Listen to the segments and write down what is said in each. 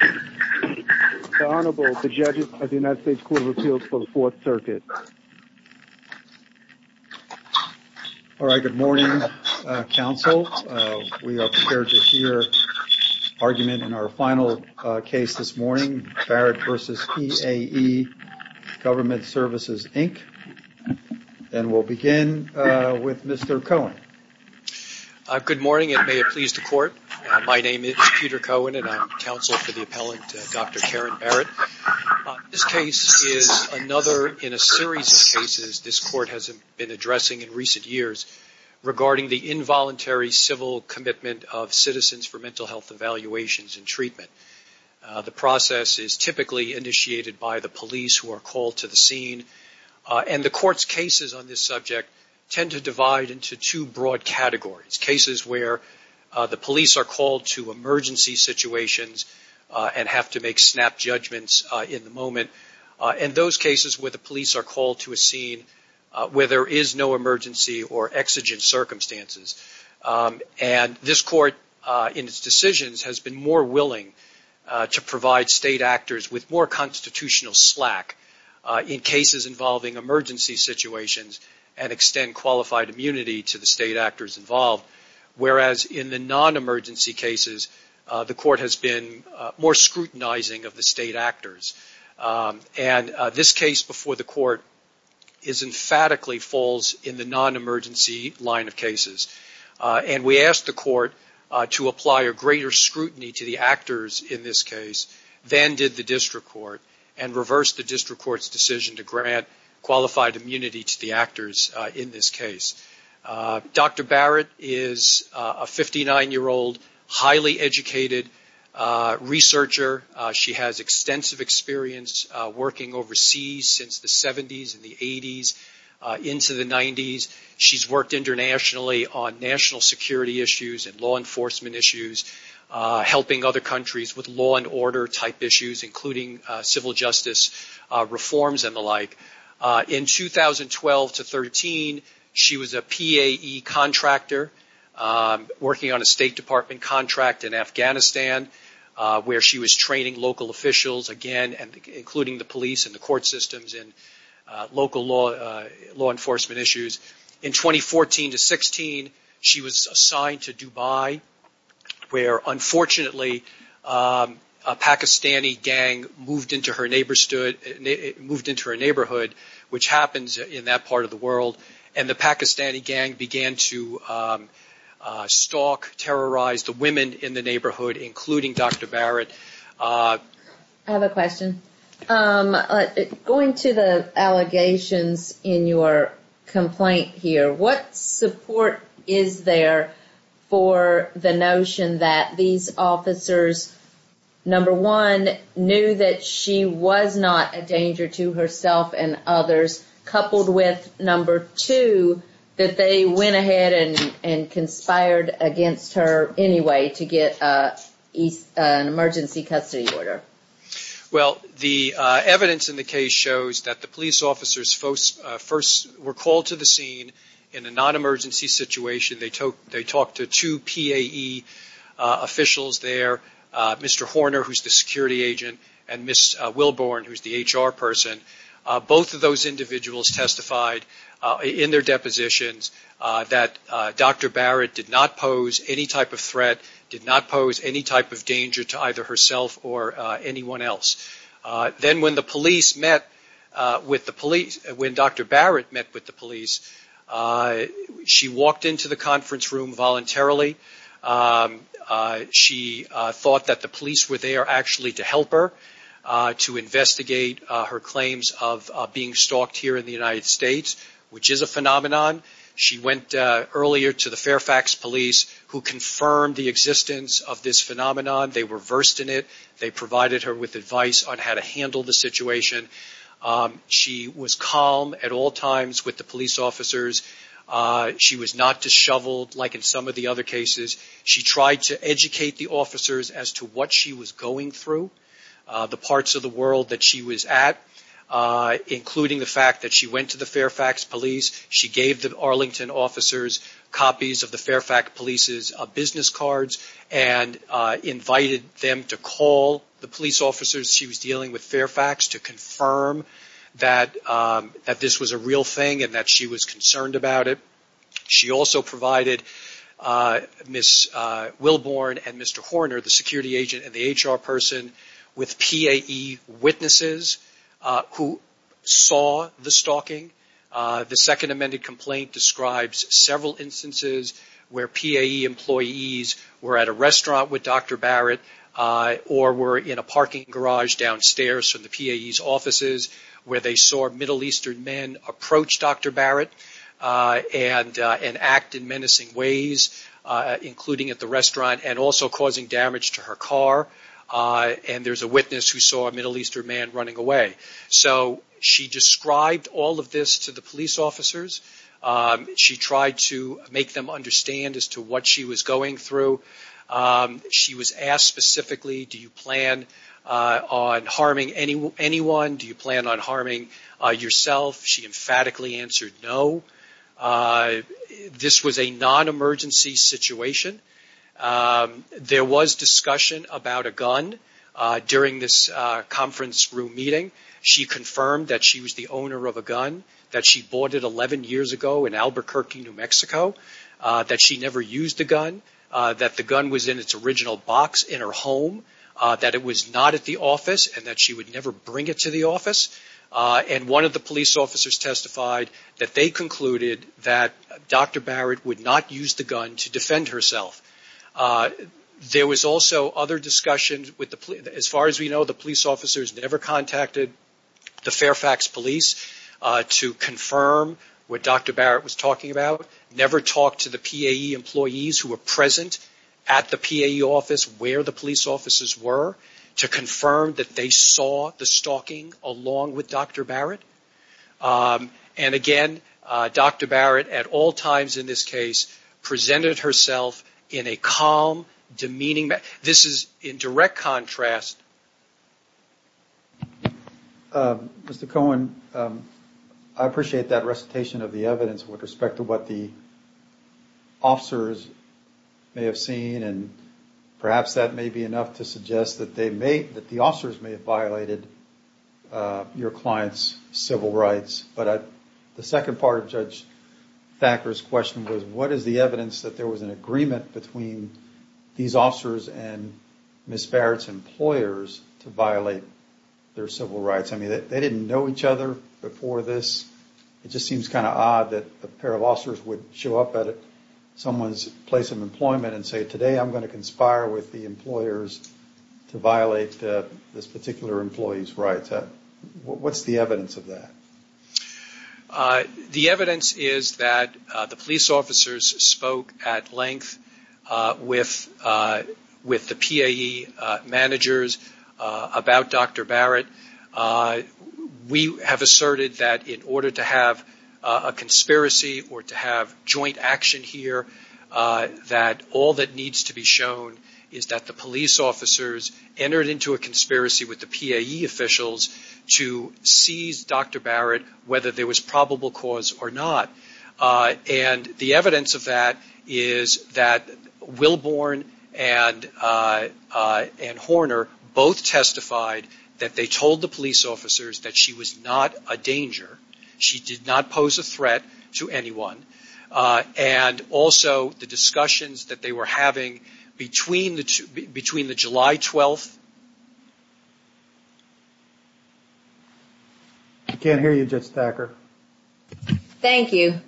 The Honorable, the judges of the United States Court of Appeals for the Fourth Circuit. All right, good morning, counsel. We are prepared to hear argument in our final case this morning, Barrett v. PAE Government Services, Inc. And we'll begin with Mr. Cohen. Good morning, and may it please the court. My name is Peter Cohen, and I'm counsel for the appellant, Dr. Karen Barrett. This case is another in a series of cases this court has been addressing in recent years regarding the involuntary civil commitment of citizens for mental health evaluations and treatment. The process is typically initiated by the police who are called to the scene, and the court's cases on this subject tend to divide into two broad categories. Cases where the police are called to emergency situations and have to make snap judgments in the moment. And those cases where the police are called to a scene where there is no emergency or exigent circumstances. And this court, in its decisions, has been more willing to provide state actors with more constitutional slack in cases involving emergency situations and extend qualified immunity to the state actors involved. Whereas in the non-emergency cases, the court has been more scrutinizing of the state actors. And this case before the court is emphatically falls in the non-emergency line of cases. And we asked the court to apply a greater scrutiny to the actors in this case than did the district court and reversed the district court's decision to grant qualified immunity to the actors in this case. Dr. Barrett is a 59-year-old highly educated researcher. She has extensive experience working overseas since the 70s and the 80s into the 90s. She's worked internationally on national security issues and law enforcement issues, helping other countries with law and order type issues, including civil justice reforms and the like. In 2012 to 13, she was a PAE contractor working on a State Department contract in Afghanistan where she was training local officials, again, including the police and the court systems and local law enforcement issues. In 2014 to 16, she was assigned to Dubai where, unfortunately, a Pakistani gang moved into her neighborhood, which happens in that part of the world. And the Pakistani gang began to stalk, terrorize the women in the neighborhood, including Dr. Barrett. I have a question. Going to the allegations in your complaint here, what support is there for the notion that these officers, number one, knew that she was not a danger to herself and others, coupled with, number two, that they went ahead and conspired against her anyway to get an emergency custody order? Well, the evidence in the case shows that the police officers first were called to the scene in a non-emergency situation. They talked to two PAE officials there, Mr. Horner, who's the security agent, and Ms. Wilborn, who's the HR person. Both of those individuals testified in their depositions that Dr. Barrett did not pose any type of threat, did not pose any type of danger to either herself or anyone else. Then when Dr. Barrett met with the police, she walked into the conference room voluntarily. She thought that the police were there actually to help her to investigate her claims of being stalked here in the United States, which is a phenomenon. She went earlier to the Fairfax police, who confirmed the existence of this phenomenon. They were versed in it. They provided her with advice on how to handle the situation. She was calm at all times with the police officers. She was not disheveled like in some of the other cases. She tried to educate the officers as to what she was going through, the parts of the world that she was at, including the fact that she went to the Fairfax police. She gave the Arlington officers copies of the Fairfax police's business cards and invited them to call the police officers she was dealing with Fairfax to confirm that this was a real thing and that she was concerned about it. She also provided Ms. Wilborn and Mr. Horner, the security agent and the HR person, with PAE witnesses who saw the stalking. The second amended complaint describes several instances where PAE employees were at a restaurant with Dr. Barrett or were in a parking garage downstairs from the PAE's offices where they saw Middle Eastern men approach Dr. Barrett. And act in menacing ways, including at the restaurant and also causing damage to her car. And there's a witness who saw a Middle Eastern man running away. So she described all of this to the police officers. She tried to make them understand as to what she was going through. She was asked specifically, do you plan on harming anyone? Do you plan on harming yourself? She emphatically answered no. This was a non-emergency situation. There was discussion about a gun during this conference room meeting. She confirmed that she was the owner of a gun, that she bought it 11 years ago in Albuquerque, New Mexico, that she never used the gun, that the gun was in its original box in her home, that it was not at the office and that she would never bring it to the office. And one of the police officers testified that they concluded that Dr. Barrett would not use the gun to defend herself. There was also other discussion. As far as we know, the police officers never contacted the Fairfax police to confirm what Dr. Barrett was talking about. Never talked to the PAE employees who were present at the PAE office where the police officers were to confirm that they saw the stalking along with Dr. Barrett. And again, Dr. Barrett at all times in this case presented herself in a calm, demeaning manner. This is in direct contrast. Mr. Cohen, I appreciate that recitation of the evidence with respect to what the officers may have seen and perhaps that may be enough to suggest that the officers may have violated your client's civil rights. But the second part of Judge Thacker's question was, what is the evidence that there was an agreement between these officers and Ms. Barrett's employers to violate their civil rights? I mean, they didn't know each other before this. It just seems kind of odd that a pair of officers would show up at someone's place of employment and say, well, today I'm going to conspire with the employers to violate this particular employee's rights. What's the evidence of that? The evidence is that the police officers spoke at length with the PAE managers about Dr. Barrett. We have asserted that in order to have a conspiracy or to have joint action here, that all that needs to be shown is that the police officers entered into a conspiracy with the PAE officials to seize Dr. Barrett, whether there was probable cause or not. And the evidence of that is that Wilborn and Horner both testified that they told the police officers that she was not a danger. She did not pose a threat to anyone. And also, the discussions that they were having between the July 12th... I can't hear you, Judge Thacker. Thank you.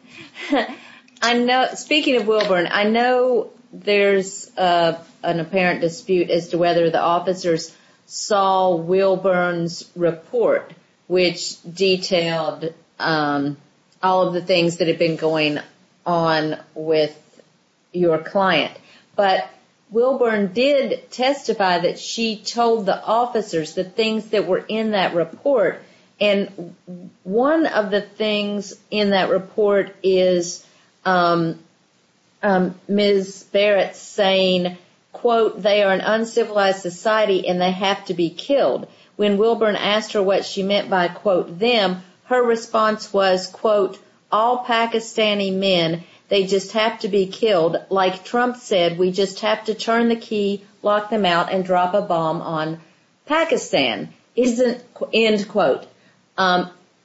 Speaking of Wilborn, I know there's an apparent dispute as to whether the officers saw Wilborn's report, which detailed all of the things that had been going on with your client. But Wilborn did testify that she told the officers the things that were in that report. And one of the things in that report is Ms. Barrett saying, quote, End quote.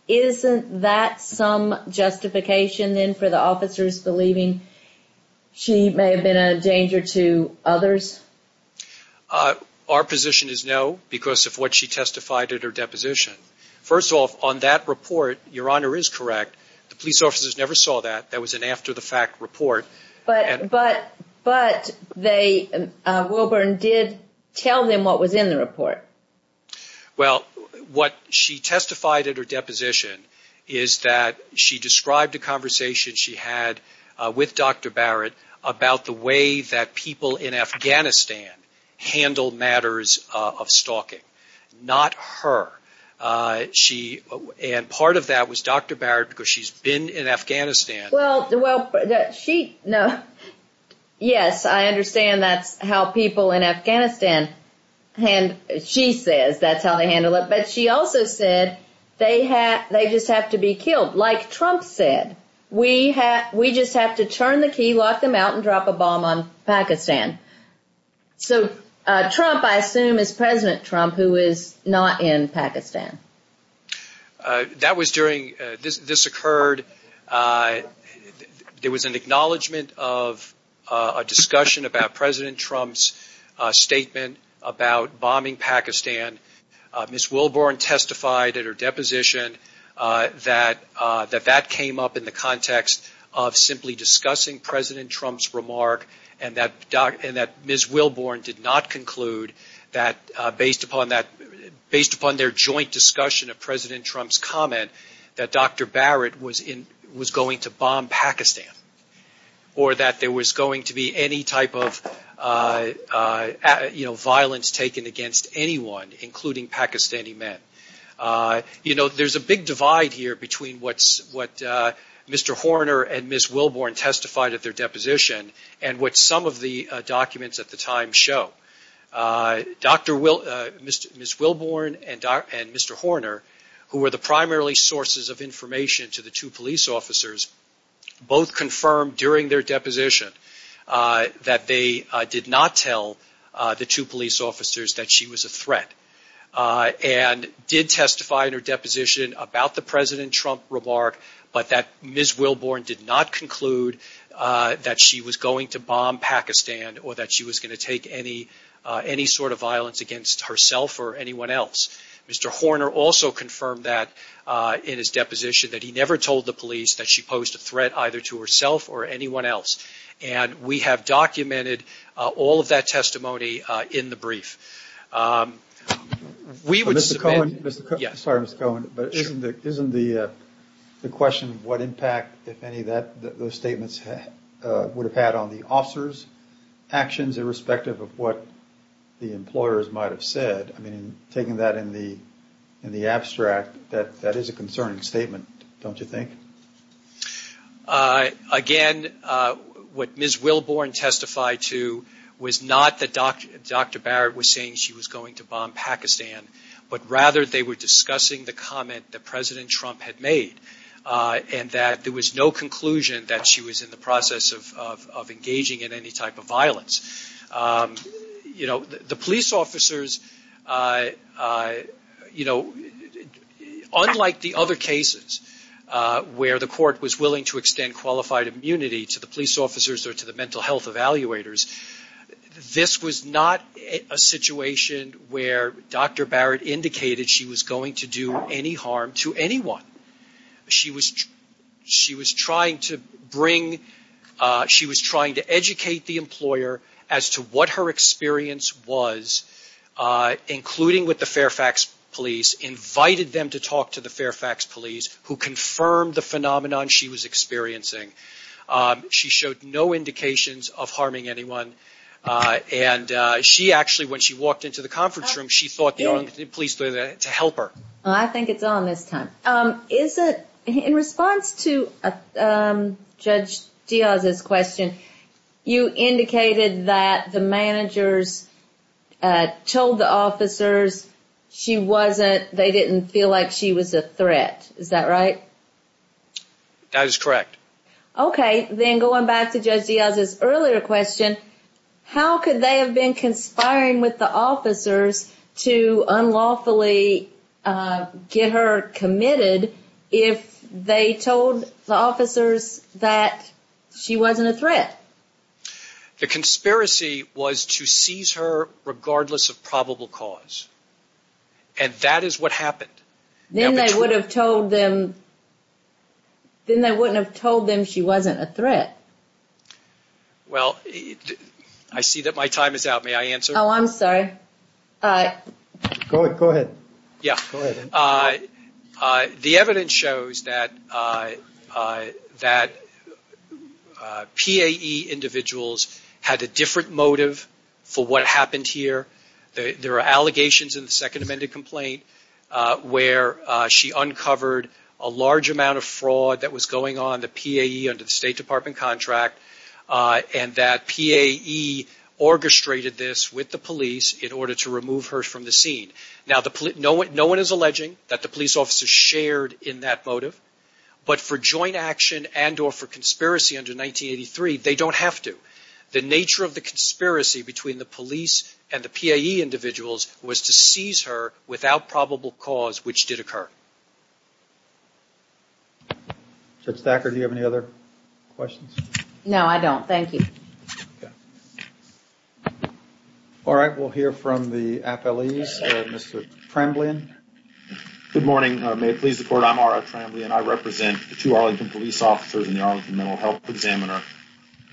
Isn't that some justification for the officers believing she may have been a danger to others? Our position is no, because of what she testified at her deposition. First off, on that report, your Honor is correct, the police officers never saw that. That was an after-the-fact report. But Wilborn did tell them what was in the report. Well, what she testified at her deposition is that she described a conversation she had with Dr. Barrett about the way that people in Afghanistan handle matters of stalking. Not her. And part of that was Dr. Barrett, because she's been in Afghanistan... Well, yes, I understand that's how people in Afghanistan, she says that's how they handle it. But she also said they just have to be killed. Like Trump said, we just have to turn the key, lock them out, and drop a bomb on Pakistan. So Trump, I assume, is President Trump, who is not in Pakistan. That was during, this occurred, there was an acknowledgement of a discussion about President Trump's statement about bombing Pakistan. Ms. Wilborn testified at her deposition that that came up in the context of simply discussing President Trump's remark, and that Ms. Wilborn did not conclude that, based upon their joint discussion of President Trump's comment, that Dr. Barrett was going to bomb Pakistan. Or that there was going to be any type of violence taken against anyone, including Pakistani men. There's a big divide here between what Mr. Horner and Ms. Wilborn testified at their deposition, and what some of the documents at the time show. Ms. Wilborn and Mr. Horner, who were the primarily sources of information to the two police officers, both confirmed during their deposition that they did not tell the two police officers that she was a threat. And did testify in her deposition about the President Trump remark, but that Ms. Wilborn did not conclude that she was going to bomb Pakistan, or that she was going to take any sort of violence against herself or anyone else. Mr. Horner also confirmed that in his deposition, that he never told the police that she posed a threat either to herself or anyone else. And we have documented all of that testimony in the brief. Mr. Cohen, isn't the question of what impact, if any, those statements would have had on the officers' actions, irrespective of what the employers might have said. I mean, taking that in the abstract, that is a concerning statement, don't you think? Again, what Ms. Wilborn testified to was not that Dr. Barrett was saying she was going to bomb Pakistan, but rather they were discussing the comment that President Trump had made. And that there was no conclusion that she was in the process of engaging in any type of violence. You know, the police officers, you know, unlike the other cases where the court was willing to extend qualified immunity to the police officers or to the mental health evaluators, this was not a situation where Dr. Barrett indicated she was going to do any harm to anyone. She was trying to bring, she was trying to educate the employer as to what her experience was, including with the Fairfax police, invited them to talk to the Fairfax police, who confirmed the phenomenon she was experiencing. She showed no indications of harming anyone. And she actually, when she walked into the conference room, she thought the police were there to help her. I think it's on this time. Is it, in response to Judge Diaz's question, you indicated that the managers told the officers she wasn't, they didn't feel like she was a threat. Is that right? That is correct. Okay. Then going back to Judge Diaz's earlier question, how could they have been conspiring with the officers to unlawfully get her committed if they told the officers that she wasn't a threat? The conspiracy was to seize her regardless of probable cause. And that is what happened. Then they wouldn't have told them she wasn't a threat. Well, I see that my time is out. May I answer? Oh, I'm sorry. Go ahead. The evidence shows that PAE individuals had a different motive for what happened here. There are allegations in the second amended complaint where she uncovered a large amount of fraud that was going on the PAE under the State Department contract. And that PAE orchestrated this with the police in order to remove her from the scene. No one is alleging that the police officers shared in that motive. But for joint action and or for conspiracy under 1983, they don't have to. The nature of the conspiracy between the police and the PAE individuals was to seize her without probable cause, which did occur. Judge Thacker, do you have any other questions? No, I don't. Thank you. All right. We'll hear from the appellees. Mr. Tremblay. Good morning. May it please the court. I'm R.A. Tremblay and I represent the two Arlington police officers and the Arlington mental health examiner.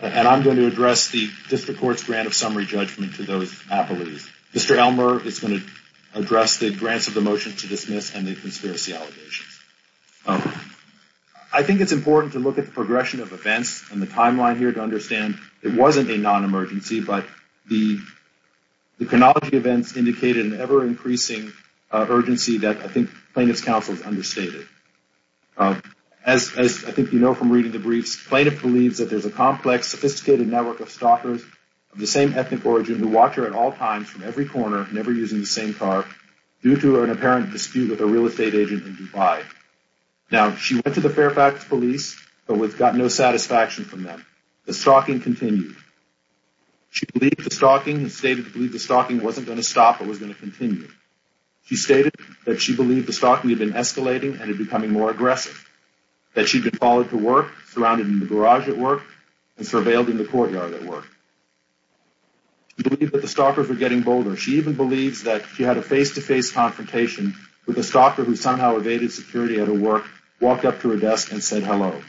And I'm going to address the district court's grant of summary judgment to those appellees. Mr. Elmer is going to address the grants of the motion to dismiss and the conspiracy allegations. I think it's important to look at the progression of events and the timeline here to understand it wasn't a non-emergency, but the chronology events indicated an ever increasing urgency that I think plaintiff's counsel has understated. As I think you know from reading the briefs, plaintiff believes that there's a complex, sophisticated network of stalkers of the same ethnic origin who watch her at all times from every corner, never using the same car, due to an apparent dispute with a real estate agent in Dubai. Now, she went to the Fairfax police, but got no satisfaction from them. The stalking continued. She believed the stalking and stated to believe the stalking wasn't going to stop, it was going to continue. She stated that she believed the stalking had been escalating and becoming more aggressive. That she'd been followed to work, surrounded in the garage at work, and surveilled in the courtyard at work. She believed that the stalkers were getting bolder. She even believes that she had a face-to-face confrontation with a stalker who somehow evaded security at her work, walked up to her desk, and said hello.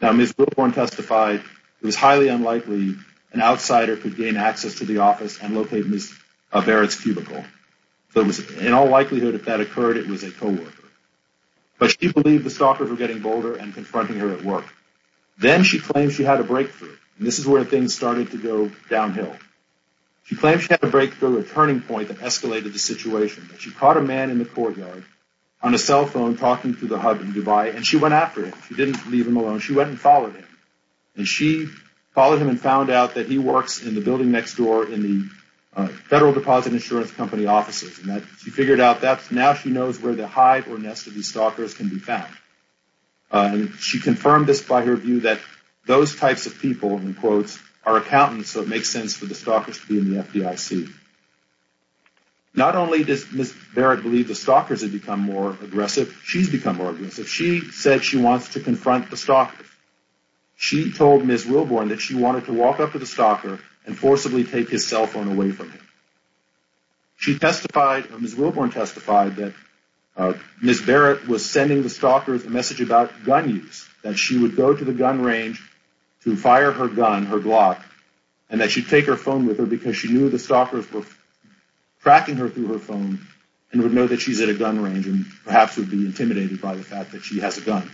Now, Ms. Wilborn testified it was highly unlikely an outsider could gain access to the office and locate Ms. Barrett's cubicle. In all likelihood, if that occurred, it was a co-worker. But she believed the stalkers were getting bolder and confronting her at work. Then she claimed she had a breakthrough. This is where things started to go downhill. She claimed she had a breakthrough, a turning point that escalated the situation. She caught a man in the courtyard on a cell phone talking to the hub in Dubai, and she went after him. She didn't leave him alone. She went and followed him. And she followed him and found out that he works in the building next door in the Federal Deposit Insurance Company offices. She figured out that now she knows where the hide or nest of these stalkers can be found. She confirmed this by her view that those types of people, in quotes, are accountants, so it makes sense for the stalkers to be in the FDIC. Not only does Ms. Barrett believe the stalkers have become more aggressive, she's become more aggressive. She said she wants to confront the stalkers. She told Ms. Wilborn that she wanted to walk up to the stalker and forcibly take his cell phone away from him. Ms. Wilborn testified that Ms. Barrett was sending the stalkers a message about gun use, that she would go to the gun range to fire her gun, her Glock, and that she'd take her phone with her because she knew the stalkers were tracking her through her phone and would know that she's at a gun range and perhaps would be intimidated by the fact that she has a gun.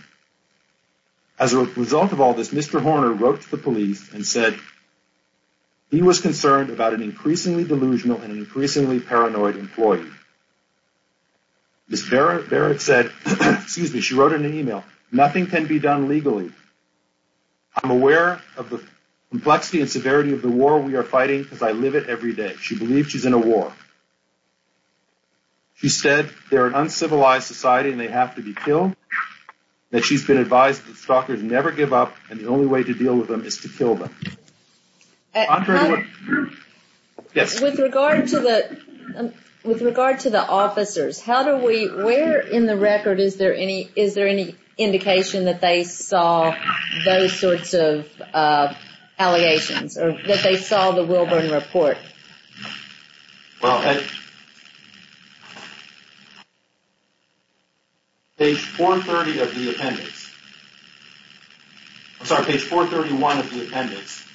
As a result of all this, Mr. Horner wrote to the police and said he was concerned about an increasingly delusional and increasingly paranoid employee. Ms. Barrett wrote in an email, Nothing can be done legally. I'm aware of the complexity and severity of the war we are fighting because I live it every day. She believes she's in a war. She said they're an uncivilized society and they have to be killed, that she's been advised that stalkers never give up and the only way to deal with them is to kill them. With regard to the officers, where in the record is there any indication that they saw those sorts of allegations, or that they saw the Wilborn report? Page 430 of the appendix, I'm sorry, page 431 of the appendix,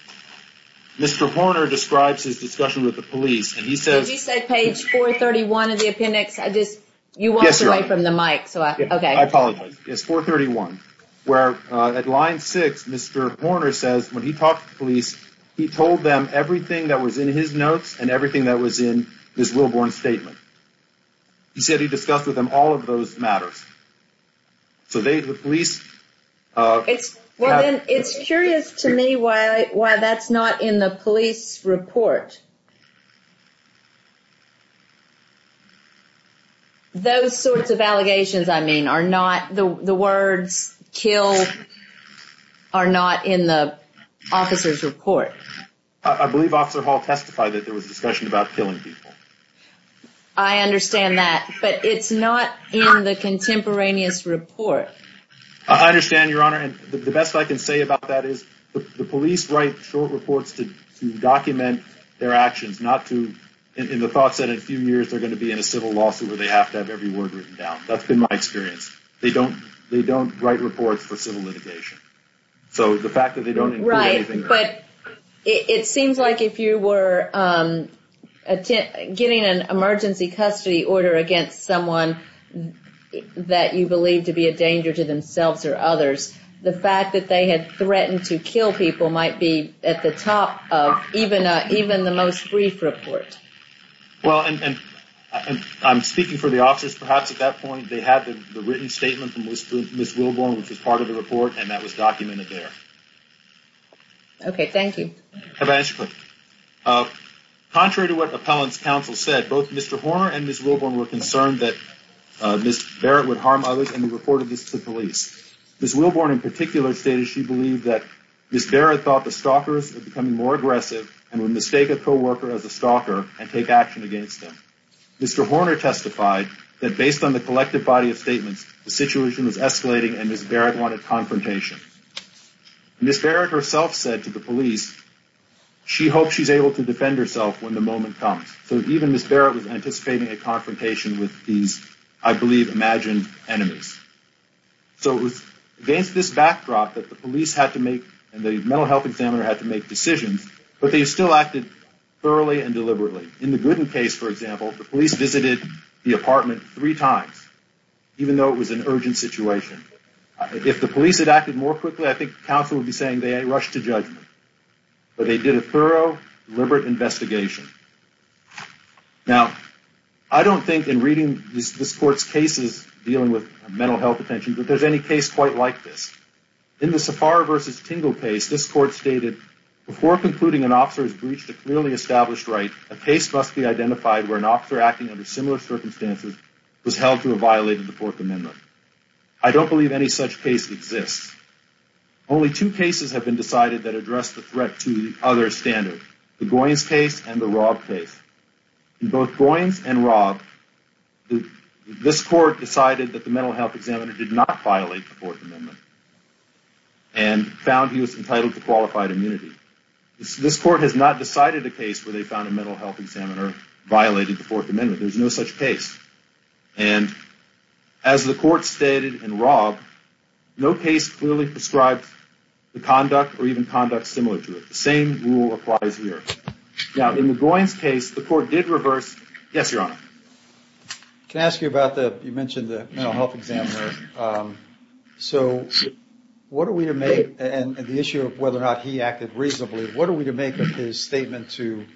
Mr. Horner describes his discussion with the police and he says, Did you say page 431 of the appendix? Yes, you are. I apologize. It's 431, where at line 6, Mr. Horner says when he talked to the police, he told them everything that was in his notes and everything that was in Ms. Wilborn's statement. He said he discussed with them all of those matters. It's curious to me why that's not in the police report. Those sorts of allegations, I mean, the words kill are not in the officer's report. I believe Officer Hall testified that there was a discussion about killing people. I understand that. But it's not in the contemporaneous report. I understand, Your Honor. The best I can say about that is the police write short reports to document their actions, not in the thoughts that in a few years they're going to be in a civil lawsuit where they have to have every word written down. That's been my experience. They don't write reports for civil litigation. So the fact that they don't include anything... But it seems like if you were getting an emergency custody order against someone that you believe to be a danger to themselves or others, the fact that they had threatened to kill people might be at the top of even the most brief report. Well, and I'm speaking for the officers. Perhaps at that point they had the written statement from Ms. Wilborn, which was part of the report, and that was documented there. Okay, thank you. Have I answered your question? Contrary to what Appellant's counsel said, both Mr. Horner and Ms. Wilborn were concerned that Ms. Barrett would harm others, and they reported this to the police. Ms. Wilborn in particular stated she believed that Ms. Barrett thought the stalkers were becoming more aggressive and would mistake a co-worker as a stalker and take action against them. Mr. Horner testified that based on the collective body of statements, the situation was escalating and Ms. Barrett wanted confrontation. Ms. Barrett herself said to the police she hoped she's able to defend herself when the moment comes. So even Ms. Barrett was anticipating a confrontation with these, I believe, imagined enemies. So it was against this backdrop that the police had to make, and the mental health examiner had to make decisions, but they still acted thoroughly and deliberately. In the Gooden case, for example, the police visited the apartment three times, even though it was an urgent situation. If the police had acted more quickly, I think counsel would be saying they rushed to judgment. But they did a thorough, deliberate investigation. Now, I don't think in reading this court's cases dealing with mental health detentions that there's any case quite like this. In the Safari v. Tingle case, this court stated, before concluding an officer has breached a clearly established right, a case must be identified where an officer acting under similar circumstances was held to have violated the Fourth Amendment. I don't believe any such case exists. Only two cases have been decided that address the threat to the other standard, the Goins case and the Robb case. In both Goins and Robb, this court decided that the mental health examiner did not violate the Fourth Amendment, and found he was entitled to qualified immunity. This court has not decided a case where they found a mental health examiner violated the Fourth Amendment. There's no such case. And as the court stated in Robb, no case clearly prescribes the conduct or even conduct similar to it. The same rule applies here. Now, in the Goins case, the court did reverse. Yes, Your Honor. Can I ask you about the, you mentioned the mental health examiner. So what are we to make, and the issue of whether or not he acted reasonably, what are we to make of his statement to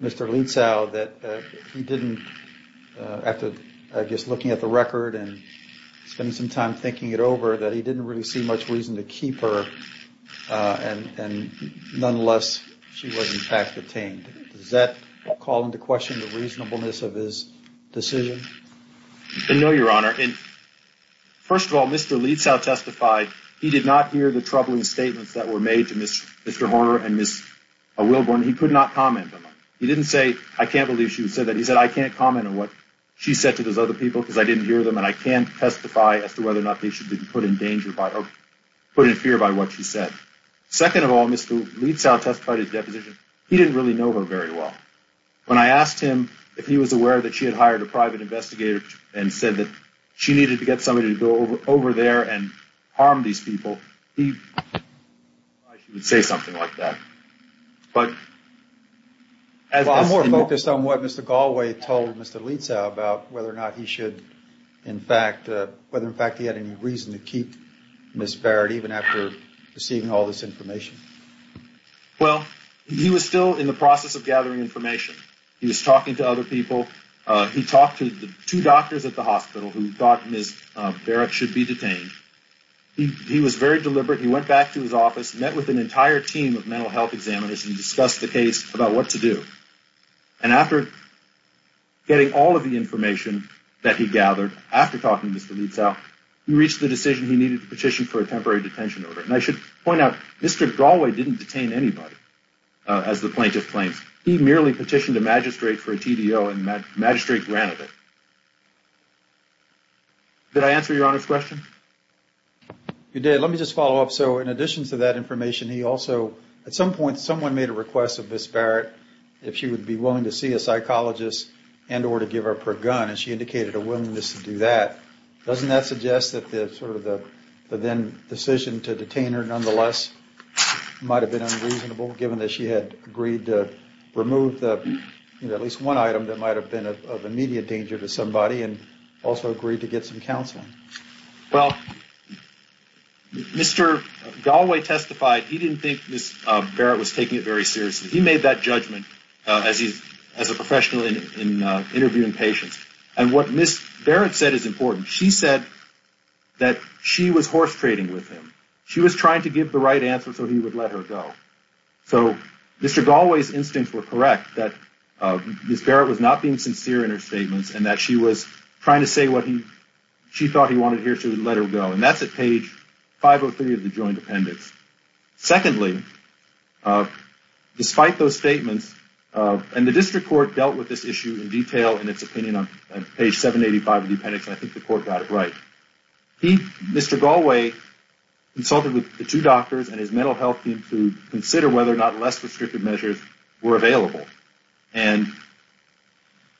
Mr. Lietzow that he didn't, after I guess looking at the record and spending some time thinking it over, that he didn't really see much reason to keep her, and nonetheless she was in fact detained. Does that call into question the reasonableness of his decision? No, Your Honor. First of all, Mr. Lietzow testified he did not hear the troubling statements that were made to Mr. Horner and Ms. Wilburn. He could not comment on them. He didn't say, I can't believe she said that. I can't comment on what she said to those other people because I didn't hear them, and I can't testify as to whether or not they should be put in danger by, or put in fear by what she said. Second of all, Mr. Lietzow testified at his deposition, he didn't really know her very well. When I asked him if he was aware that she had hired a private investigator and said that she needed to get somebody to go over there and harm these people, he would say something like that. Well, I'm more focused on what Mr. Galway told Mr. Lietzow about whether or not he should, in fact, whether in fact he had any reason to keep Ms. Barrett even after receiving all this information. Well, he was still in the process of gathering information. He was talking to other people. He talked to the two doctors at the hospital who thought Ms. Barrett should be detained. He was very deliberate. He went back to his office, met with an entire team of mental health examiners and discussed the case about what to do. And after getting all of the information that he gathered, after talking to Mr. Lietzow, he reached the decision he needed to petition for a temporary detention order. And I should point out, Mr. Galway didn't detain anybody, as the plaintiff claims. He merely petitioned a magistrate for a TDO, and the magistrate granted it. Did I answer Your Honor's question? You did. Let me just follow up. So in addition to that information, he also, at some point, someone made a request of Ms. Barrett if she would be willing to see a psychologist and or to give up her gun. And she indicated a willingness to do that. Doesn't that suggest that the then decision to detain her, nonetheless, might have been unreasonable, given that she had agreed to remove at least one item that might have been of immediate danger to somebody and also agreed to get some counseling? Well, Mr. Galway testified. He didn't think Ms. Barrett was taking it very seriously. He made that judgment as a professional in interviewing patients. And what Ms. Barrett said is important. She said that she was horse-trading with him. She was trying to give the right answer so he would let her go. So Mr. Galway's instincts were correct, that Ms. Barrett was not being sincere in her statements and that she was trying to say what she thought he wanted to hear, so he would let her go. And that's at page 503 of the joint appendix. Secondly, despite those statements, and the district court dealt with this issue in detail in its opinion on page 785 of the appendix, and I think the court got it right. Mr. Galway consulted with the two doctors and his mental health team to consider whether or not less restrictive measures were available and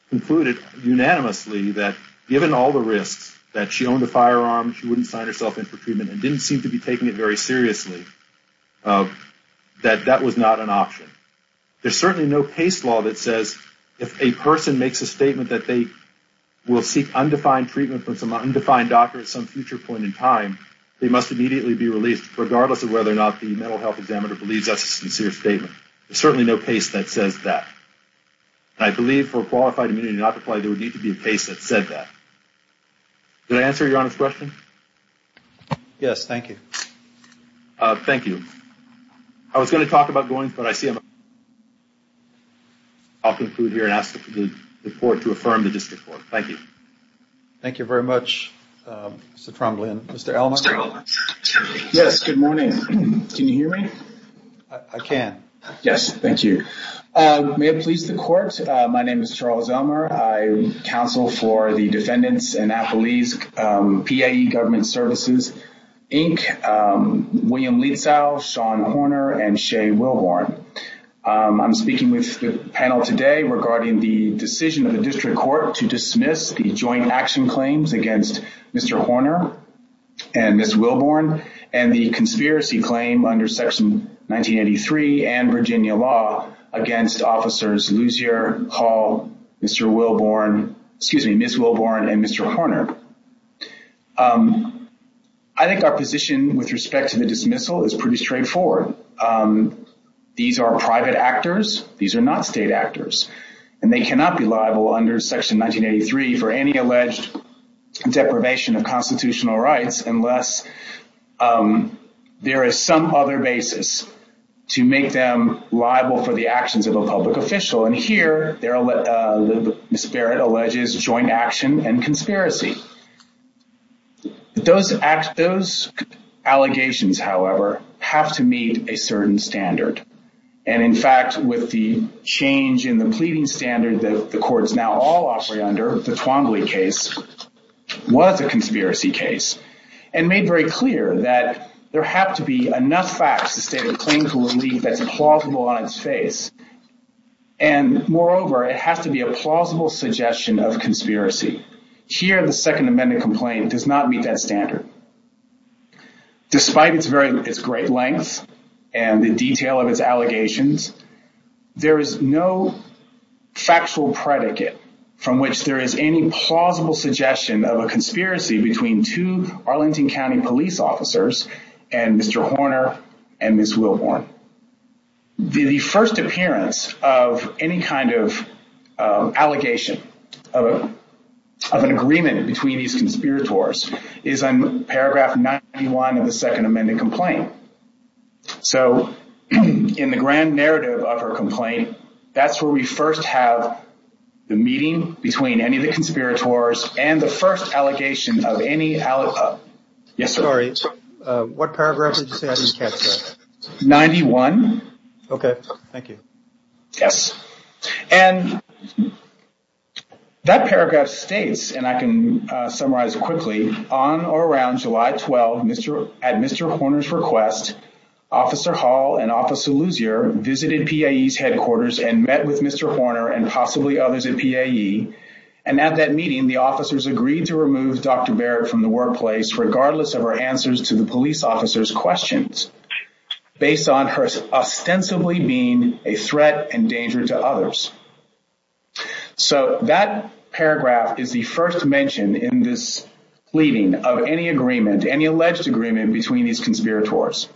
concluded unanimously that given all the risks, that she owned a firearm, she wouldn't sign herself in for treatment and didn't seem to be taking it very seriously, that that was not an option. There's certainly no PACE law that says if a person makes a statement that they will seek undefined treatment from some undefined doctor at some future point in time, they must immediately be released, regardless of whether or not the mental health examiner believes that's a sincere statement. There's certainly no PACE that says that. And I believe for qualified immunity to not apply, there would need to be a PACE that said that. Did I answer Your Honor's question? Yes, thank you. Thank you. I was going to talk about going, but I see I'm out of time. I'll conclude here and ask the court to affirm the district court. Thank you. Thank you very much, Mr. Trombley. Mr. Elmer. Yes, good morning. Can you hear me? I can. Yes, thank you. May it please the court, my name is Charles Elmer. I counsel for the Defendants and Appellees PAE Government Services, Inc., William Lietzow, Sean Horner, and Shea Wilborn. I'm speaking with the panel today regarding the decision of the district court to dismiss the joint action claims against Mr. Horner and Ms. Wilborn and the conspiracy claim under Section 1983 and Virginia law against officers Mr. Luzier, Hall, Mr. Wilborn, excuse me, Ms. Wilborn, and Mr. Horner. I think our position with respect to the dismissal is pretty straightforward. These are private actors. These are not state actors, and they cannot be liable under Section 1983 for any alleged deprivation of constitutional rights unless there is some other basis to make them liable for the actions of a public official. And here, Ms. Barrett alleges joint action and conspiracy. Those allegations, however, have to meet a certain standard. And in fact, with the change in the pleading standard that the court is now all offering under, the Twombly case was a conspiracy case and made very clear that there have to be enough facts to state a claim to relief that's implausible on its face and moreover, it has to be a plausible suggestion of conspiracy. Here, the Second Amendment complaint does not meet that standard. Despite its great length and the detail of its allegations, there is no factual predicate from which there is any plausible suggestion of a conspiracy between two Arlington County police officers and Mr. Horner and Ms. Wilborn. The first appearance of any kind of allegation of an agreement between these conspirators is in paragraph 91 of the Second Amendment complaint. So, in the grand narrative of her complaint, that's where we first have the meeting between any of the conspirators and the first allegation of any... Yes, sir? Sorry, what paragraph did you say I didn't catch, sir? 91. Okay, thank you. Yes. And that paragraph states, and I can summarize quickly, on or around July 12, at Mr. Horner's request, Officer Hall and Officer Lussier visited PAE's headquarters and met with Mr. Horner and possibly others at PAE and at that meeting, the officers agreed to remove Dr. Barrett from answering the police officer's questions based on her ostensibly being a threat and danger to others. So, that paragraph is the first mention in this pleading of any agreement, any alleged agreement between these conspirators.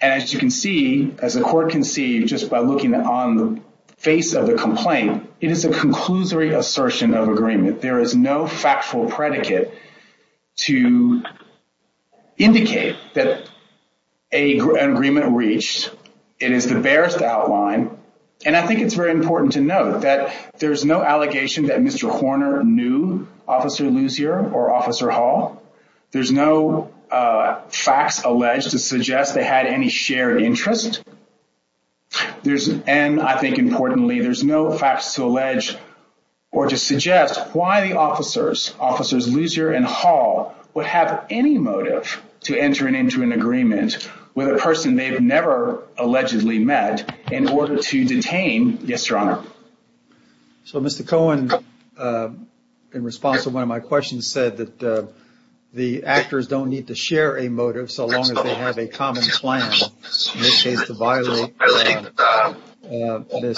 And as you can see, as the court can see just by looking on the face of the complaint, it is a conclusory assertion of agreement. There is no factual predicate to indicate that an agreement reached. It is the barest outline. And I think it's very important to note that there's no allegation that Mr. Horner knew Officer Lussier or Officer Hall. There's no facts alleged to suggest they had any shared interest. And I think importantly, there's no facts to allege or to suggest why the officers, Officers Lussier and Hall, would have any motive to enter into an agreement with a person they've never allegedly met in order to detain, yes, Your Honor. So, Mr. Cohen, in response to one of my questions, said that the actors don't need to share a motive so long as they have a common plan, in this case, to violate this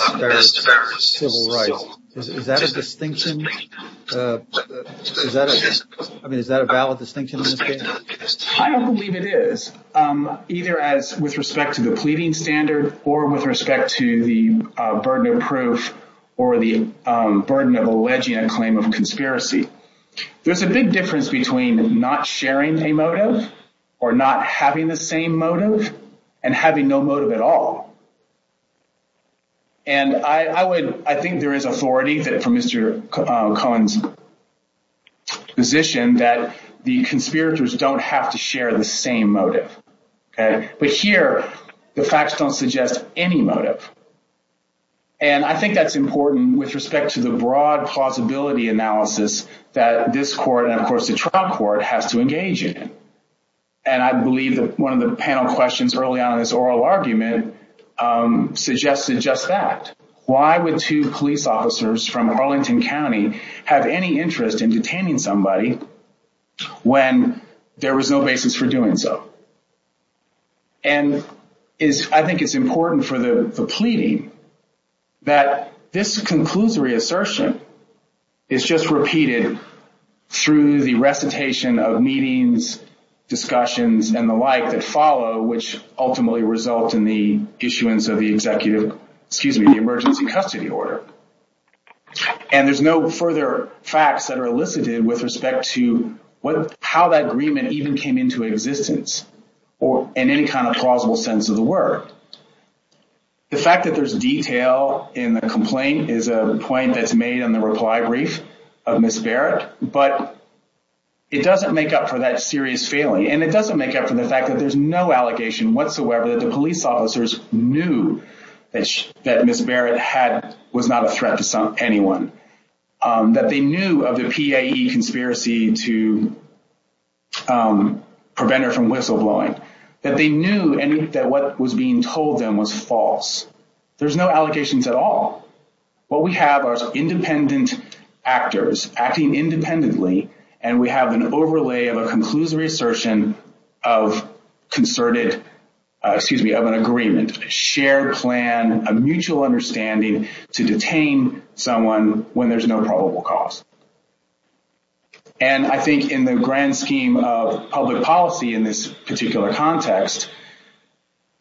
civil right. Is that a distinction? I mean, is that a valid distinction in this case? I don't believe it is, either as with respect to the pleading standard or with respect to the burden of proof or the burden of alleging a claim of conspiracy. There's a big difference between not sharing a motive or not having the same motive and having no motive at all. And I would, I think there is authority from Mr. Cohen's position that the conspirators don't have to share the same motive. But here, the facts don't suggest any motive. And I think that's important with respect to the broad plausibility analysis that this court, and of course the trial court, has to engage in. And I believe that one of the panel questions early on in this oral argument suggested just that. Why would two police officers from Arlington County have any interest in detaining somebody when there was no basis for doing so? And I think it's important for the pleading that this conclusory assertion is just repeated through the recitation of meetings, discussions, and the like that follow, which ultimately result in the issuance of the emergency custody order. And there's no further facts that are elicited with respect to how that agreement even came into existence in any kind of plausible sense of the word. The fact that there's detail in the complaint is a point that's made in the reply brief of Ms. Barrett, but it doesn't make up for that serious failing. And it doesn't make up for the fact that there's no allegation whatsoever that the police officers knew that Ms. Barrett was not a threat to anyone, that they knew of the PAE conspiracy to prevent her from whistleblowing, that they knew that what was being told them was false. There's no allegations at all. What we have are independent actors acting independently, and we have an overlay of a conclusory assertion of concerted, excuse me, of an agreement, a shared plan, a mutual understanding to detain someone when there's no probable cause. And I think in the grand scheme of public policy in this particular context,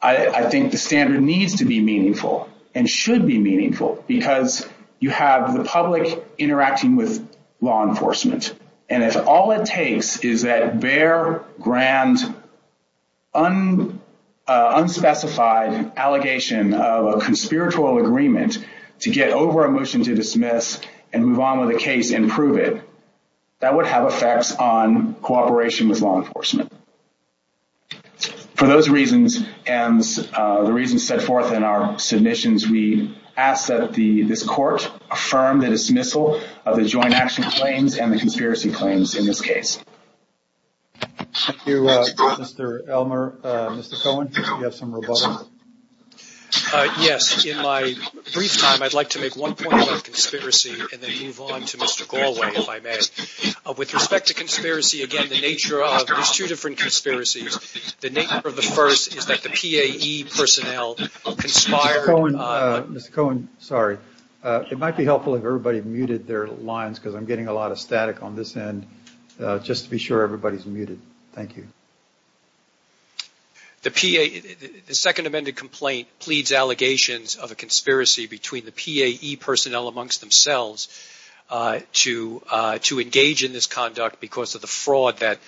I think the standard needs to be meaningful and should be meaningful because you have the public interacting with law enforcement. And if all it takes is that rare, grand, unspecified allegation of a conspiratorial agreement to get over a motion to dismiss and move on with a case and prove it, that would have effects on cooperation with law enforcement. For those reasons, and the reasons set forth in our submissions, we ask that this court affirm the dismissal of the joint action claims and the conspiracy claims in this case. Thank you, Mr. Elmer. Mr. Cohen, you have some rebuttals. Yes, in my brief time, I'd like to make one point about conspiracy and then move on to Mr. Galway, if I may. With respect to conspiracy, again, the nature of, there's two different conspiracies. The nature of the first is that the PAE personnel conspired. Mr. Cohen, sorry. It might be helpful if everybody muted their lines because I'm getting a lot of static on this end just to be sure everybody's muted. Thank you. The second amended complaint pleads allegations of a conspiracy between the PAE personnel amongst themselves to engage in this conduct because of the fraud that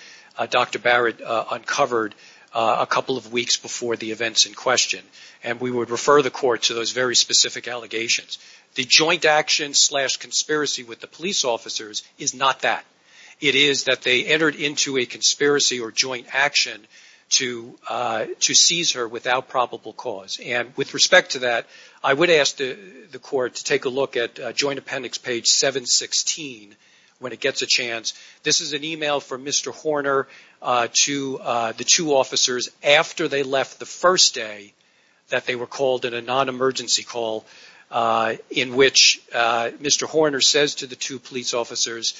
Dr. Barrett uncovered a couple of weeks before the events in question. And we would refer the court to those very specific allegations. The joint action slash conspiracy with the police officers is not that. It is that they entered into a conspiracy or joint action to seize her without probable cause. And with respect to that, I would ask the court to take a look at joint appendix page 716 when it gets a chance. This is an email from Mr. Horner to the two officers after they left the first day that they were called in a non-emergency call in which Mr. Horner says to the two police officers,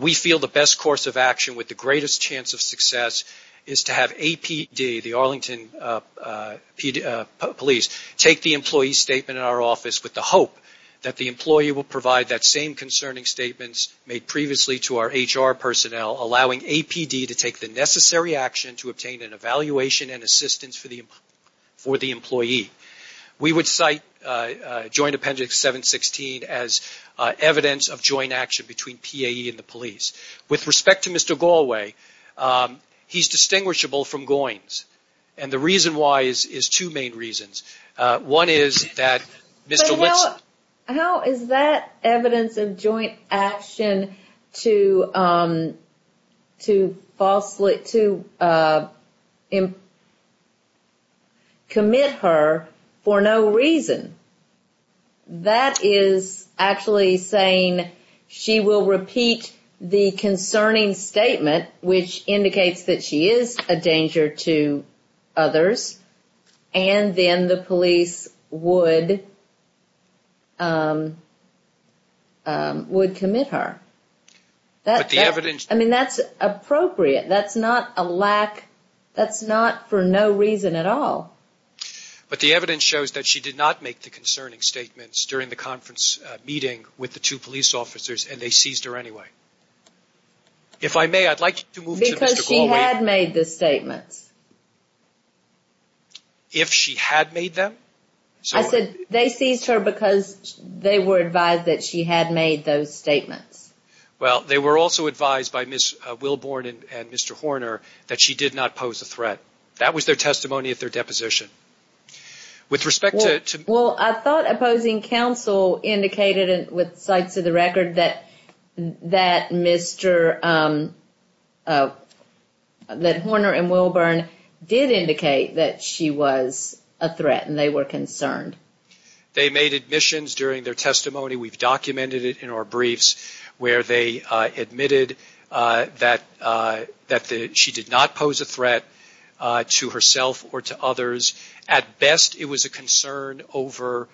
we feel the best course of action with the greatest chance of success is to have APD, the Arlington Police, take the employee statement in our office with the hope that the employee will provide that same concerning statements made previously to our HR personnel allowing APD to take the necessary action to obtain an evaluation and assistance for the employee. We would cite joint appendix 716 as evidence of joint action between PAE and the police. With respect to Mr. Galway, he's distinguishable from Goynes. And the reason why is two main reasons. One is that Mr. Whitson... But how is that evidence of joint action to falsely... to commit her for no reason? That is actually saying she will repeat the concerning statement which indicates that she is a danger to others and then the police would commit her. But the evidence... I mean, that's appropriate. That's not a lack... That's not for no reason at all. But the evidence shows that she did not make the concerning statements during the conference meeting with the two police officers and they seized her anyway. If I may, I'd like to move to Mr. Galway... Because she had made the statements. If she had made them? I said they seized her because they were advised that she had made those statements. Well, they were also advised by Ms. Wilborn and Mr. Horner that she did not pose a threat. That was their testimony at their deposition. With respect to... The counsel indicated with cites of the record that Mr... that Horner and Wilborn did indicate that she was a threat and they were concerned. They made admissions during their testimony. We've documented it in our briefs where they admitted that she did not pose a threat to herself or to others. At best, it was a concern over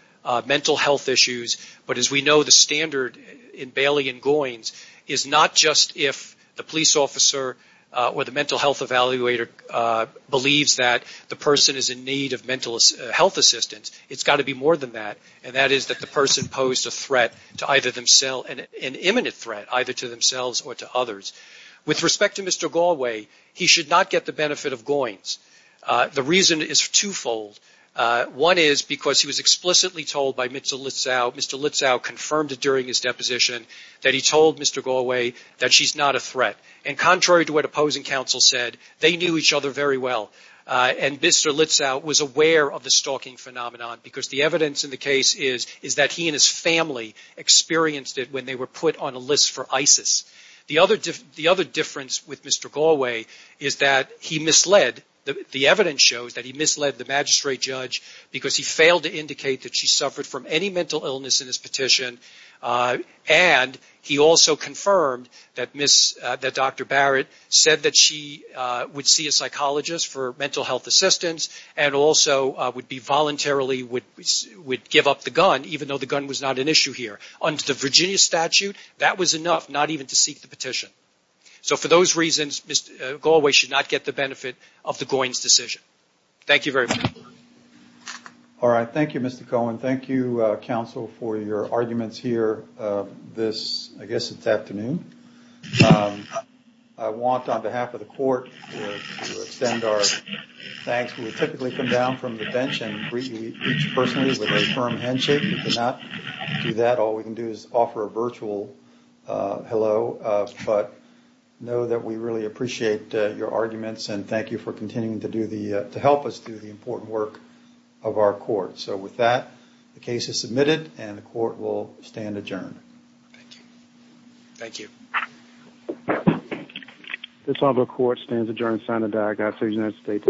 mental health issues. But as we know, the standard in Bailey and Goins is not just if the police officer or the mental health evaluator believes that the person is in need of mental health assistance. It's got to be more than that. And that is that the person posed a threat to either themselves... an imminent threat either to themselves or to others. With respect to Mr. Galway, he should not get the benefit of Goins. The reason is twofold. One is because he was explicitly told by Mr. Litzow... Mr. Litzow confirmed it during his deposition that he told Mr. Galway that she's not a threat. And contrary to what opposing counsel said, they knew each other very well. And Mr. Litzow was aware of the stalking phenomenon because the evidence in the case is that he and his family experienced it when they were put on a list for ISIS. The other difference with Mr. Galway is that the evidence shows that he misled the magistrate judge because he failed to indicate that she suffered from any mental illness in his petition. And he also confirmed that Dr. Barrett said that she would see a psychologist for mental health assistance and also would voluntarily give up the gun even though the gun was not an issue here. Under the Virginia statute, that was enough not even to seek the petition. So for those reasons, it's not an issue. Thank you very much. All right. Thank you, Mr. Cohen. Thank you, counsel, for your arguments here this, I guess it's afternoon. I want on behalf of the court to extend our thanks. We typically come down from the bench and greet each person with a firm handshake. We cannot do that. All we can do is offer a virtual hello. But know that we really appreciate your arguments and thank you for continuing to help us do the important work of our court. So with that, the case is submitted and the court will stand adjourned. Thank you. Thank you. This court stands adjourned signed and diagnosed by the United States.